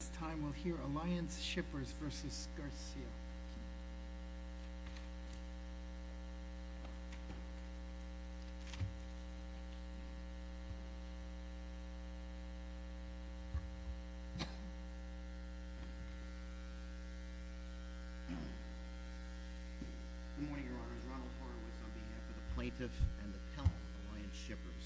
This time we'll hear Alliance Shippers v. Garcia. Good morning, Your Honors. Ronald Horowitz on behalf of the Plaintiff and the Count of Alliance Shippers.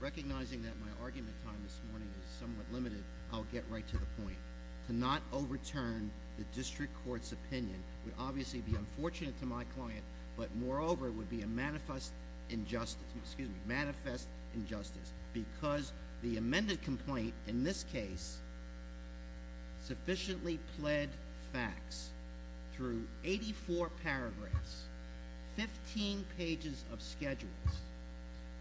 Recognizing that my argument time this morning is somewhat limited, I'll get right to the point. To not overturn the District Court's opinion would obviously be unfortunate to my client, but moreover would be a manifest injustice, excuse me, manifest injustice. Because the amended complaint in this case sufficiently pled facts through 84 paragraphs, 15 pages of schedules.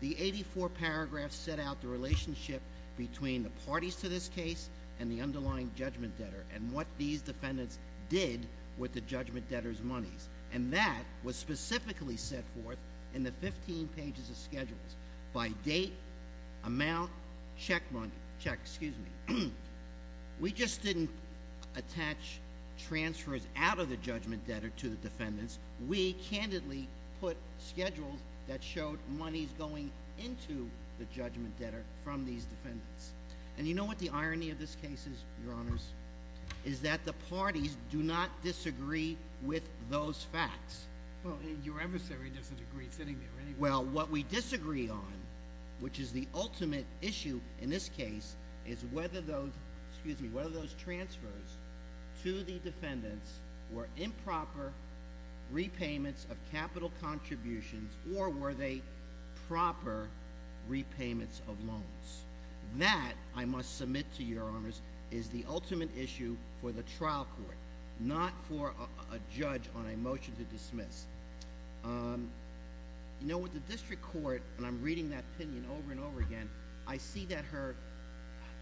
The 84 paragraphs set out the relationship between the parties to this case and the underlying judgment debtor and what these defendants did with the judgment debtor's monies. And that was specifically set forth in the 15 pages of schedules. By date, amount, check money, check, excuse me. We just didn't attach transfers out of the judgment debtor to the defendants. We candidly put schedules that showed monies going into the judgment debtor from these defendants. And you know what the irony of this case is, Your Honors? Is that the parties do not disagree with those facts. Well, your adversary doesn't agree sitting there anyway. Well, what we disagree on, which is the ultimate issue in this case, is whether those, excuse me, whether those transfers to the defendants were improper repayments of capital contributions or were they proper repayments of loans. That, I must submit to Your Honors, is the ultimate issue for the trial court, not for a judge on a motion to dismiss. You know, with the District Court, and I'm reading that opinion over and over again, I see that her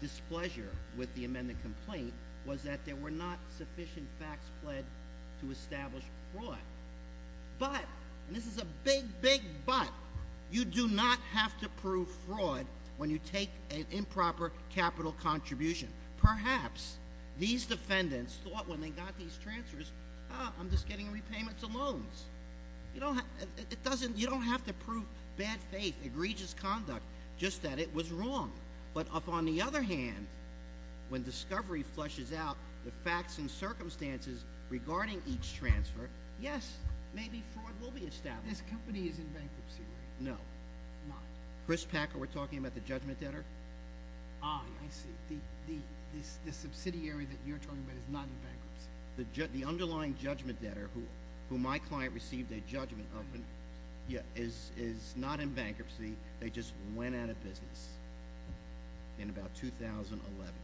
displeasure with the amended complaint was that there were not sufficient facts pled to establish fraud. But, and this is a big, big but, you do not have to prove fraud when you take an improper capital contribution. Perhaps these defendants thought when they got these transfers, I'm just getting repayments of loans. You don't have to prove bad faith, egregious conduct, just that it was wrong. But on the other hand, when discovery flushes out the facts and circumstances regarding each transfer, yes, maybe fraud will be established. This company is in bankruptcy, right? No. Not? Chris Packer, we're talking about the judgment debtor? Ah, I see. The subsidiary that you're talking about is not in bankruptcy. The underlying judgment debtor, who my client received a judgment of, is not in bankruptcy. They just went out of business in about 2011.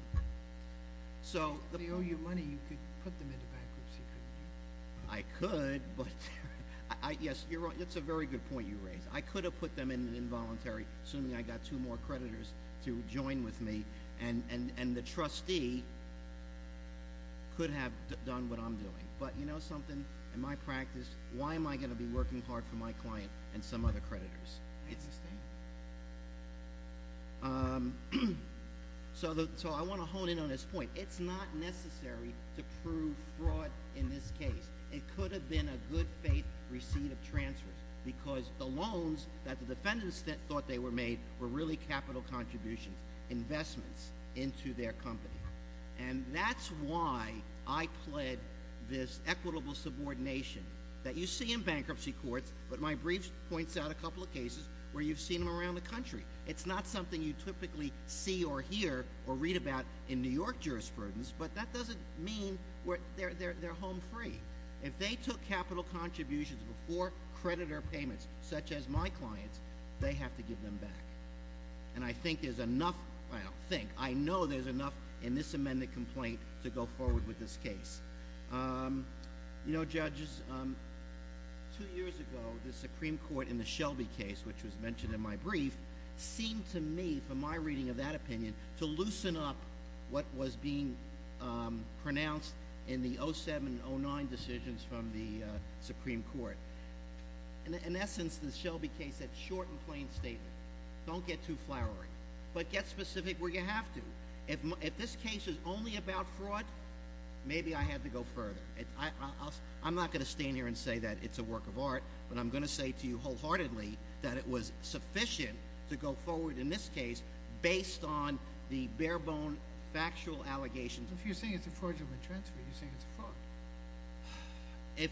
If they owe you money, you could put them into bankruptcy, couldn't you? I could, but yes, you're right. That's a very good point you raise. I could have put them in involuntary, assuming I got two more creditors to join with me, and the trustee could have done what I'm doing. But you know something? In my practice, why am I going to be working hard for my client and some other creditors? So I want to hone in on this point. It's not necessary to prove fraud in this case. It could have been a good faith receipt of transfers because the loans that the defendants thought they were made were really capital contributions, investments into their company. And that's why I pled this equitable subordination that you see in bankruptcy courts, but my brief points out a couple of cases where you've seen them around the country. It's not something you typically see or hear or read about in New York jurisprudence, but that doesn't mean they're home free. If they took capital contributions before creditor payments, such as my clients, they have to give them back. And I think there's enough – well, I don't think. I know there's enough in this amended complaint to go forward with this case. You know, judges, two years ago the Supreme Court in the Shelby case, which was mentioned in my brief, seemed to me, from my reading of that opinion, to loosen up what was being pronounced in the 07-09 decisions from the Supreme Court. In essence, the Shelby case had a short and plain statement. Don't get too flowery, but get specific where you have to. If this case is only about fraud, maybe I have to go further. I'm not going to stand here and say that it's a work of art, but I'm going to say to you wholeheartedly that it was sufficient to go forward in this case based on the bare-bone factual allegations. If you're saying it's a fraudulent transfer, you're saying it's a fraud. If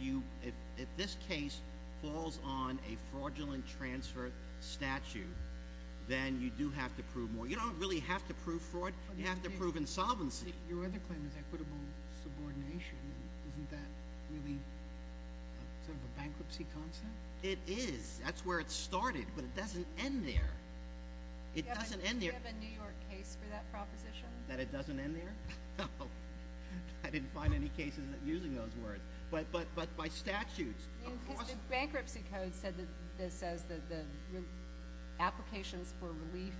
you – if this case falls on a fraudulent transfer statute, then you do have to prove more. You don't really have to prove fraud. You have to prove insolvency. Your other claim is equitable subordination. Isn't that really sort of a bankruptcy concept? It is. That's where it started, but it doesn't end there. It doesn't end there. Do you have a New York case for that proposition? That it doesn't end there? I didn't find any cases using those words. But by statutes, of course. The bankruptcy code says that the applications for relief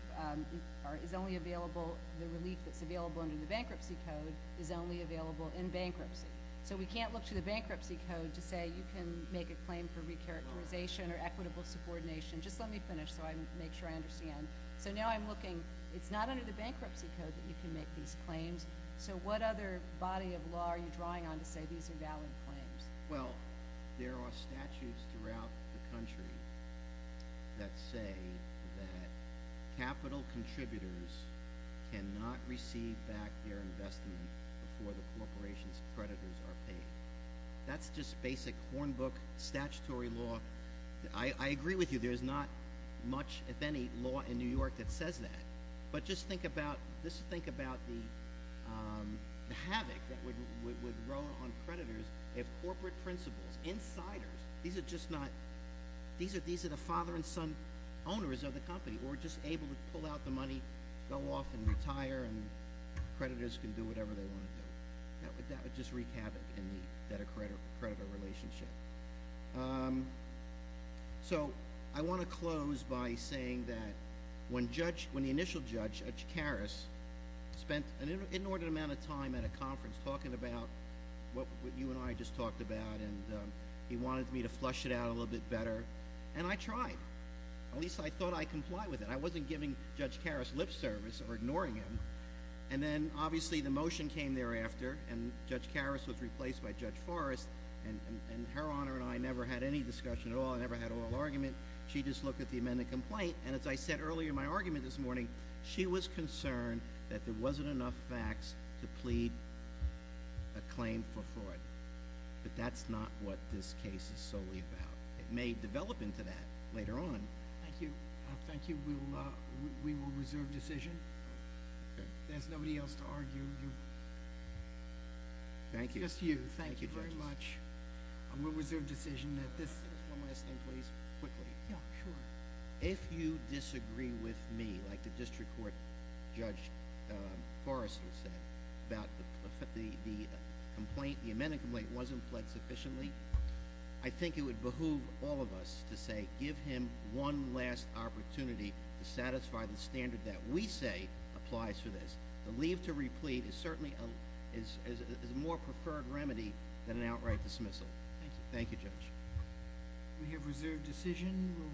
is only available – the relief that's available under the bankruptcy code is only available in bankruptcy. So we can't look to the bankruptcy code to say you can make a claim for recharacterization or equitable subordination. Just let me finish so I can make sure I understand. So now I'm looking – it's not under the bankruptcy code that you can make these claims. So what other body of law are you drawing on to say these are valid claims? Well, there are statutes throughout the country that say that capital contributors cannot receive back their investment before the corporation's creditors are paid. That's just basic hornbook statutory law. I agree with you. There's not much, if any, law in New York that says that. But just think about the havoc that would grow on creditors if corporate principals, insiders – these are just not – these are the father and son owners of the company who are just able to pull out the money, go off and retire, and creditors can do whatever they want to do. That would just wreak havoc in the debtor-creditor relationship. So I want to close by saying that when the initial judge, Judge Karas, spent an inordinate amount of time at a conference talking about what you and I just talked about and he wanted me to flush it out a little bit better, and I tried. At least I thought I'd comply with it. I wasn't giving Judge Karas lip service or ignoring him. And then, obviously, the motion came thereafter, and Judge Karas was replaced by Judge Forrest, and Her Honor and I never had any discussion at all. I never had an oral argument. She just looked at the amended complaint, and as I said earlier in my argument this morning, she was concerned that there wasn't enough facts to plead a claim for fraud. But that's not what this case is solely about. It may develop into that later on. Thank you. Thank you. We will reserve decision. There's nobody else to argue. Thank you. Just you. Thank you very much. We'll reserve decision. One last thing, please. Quickly. Yeah, sure. If you disagree with me, like the district court Judge Forrest had said, about the amendment complaint wasn't pled sufficiently, I think it would behoove all of us to say give him one last opportunity to satisfy the standard that we say applies to this. The leave to replete is certainly a more preferred remedy than an outright dismissal. Thank you. Thank you, Judge. We have reserved decision.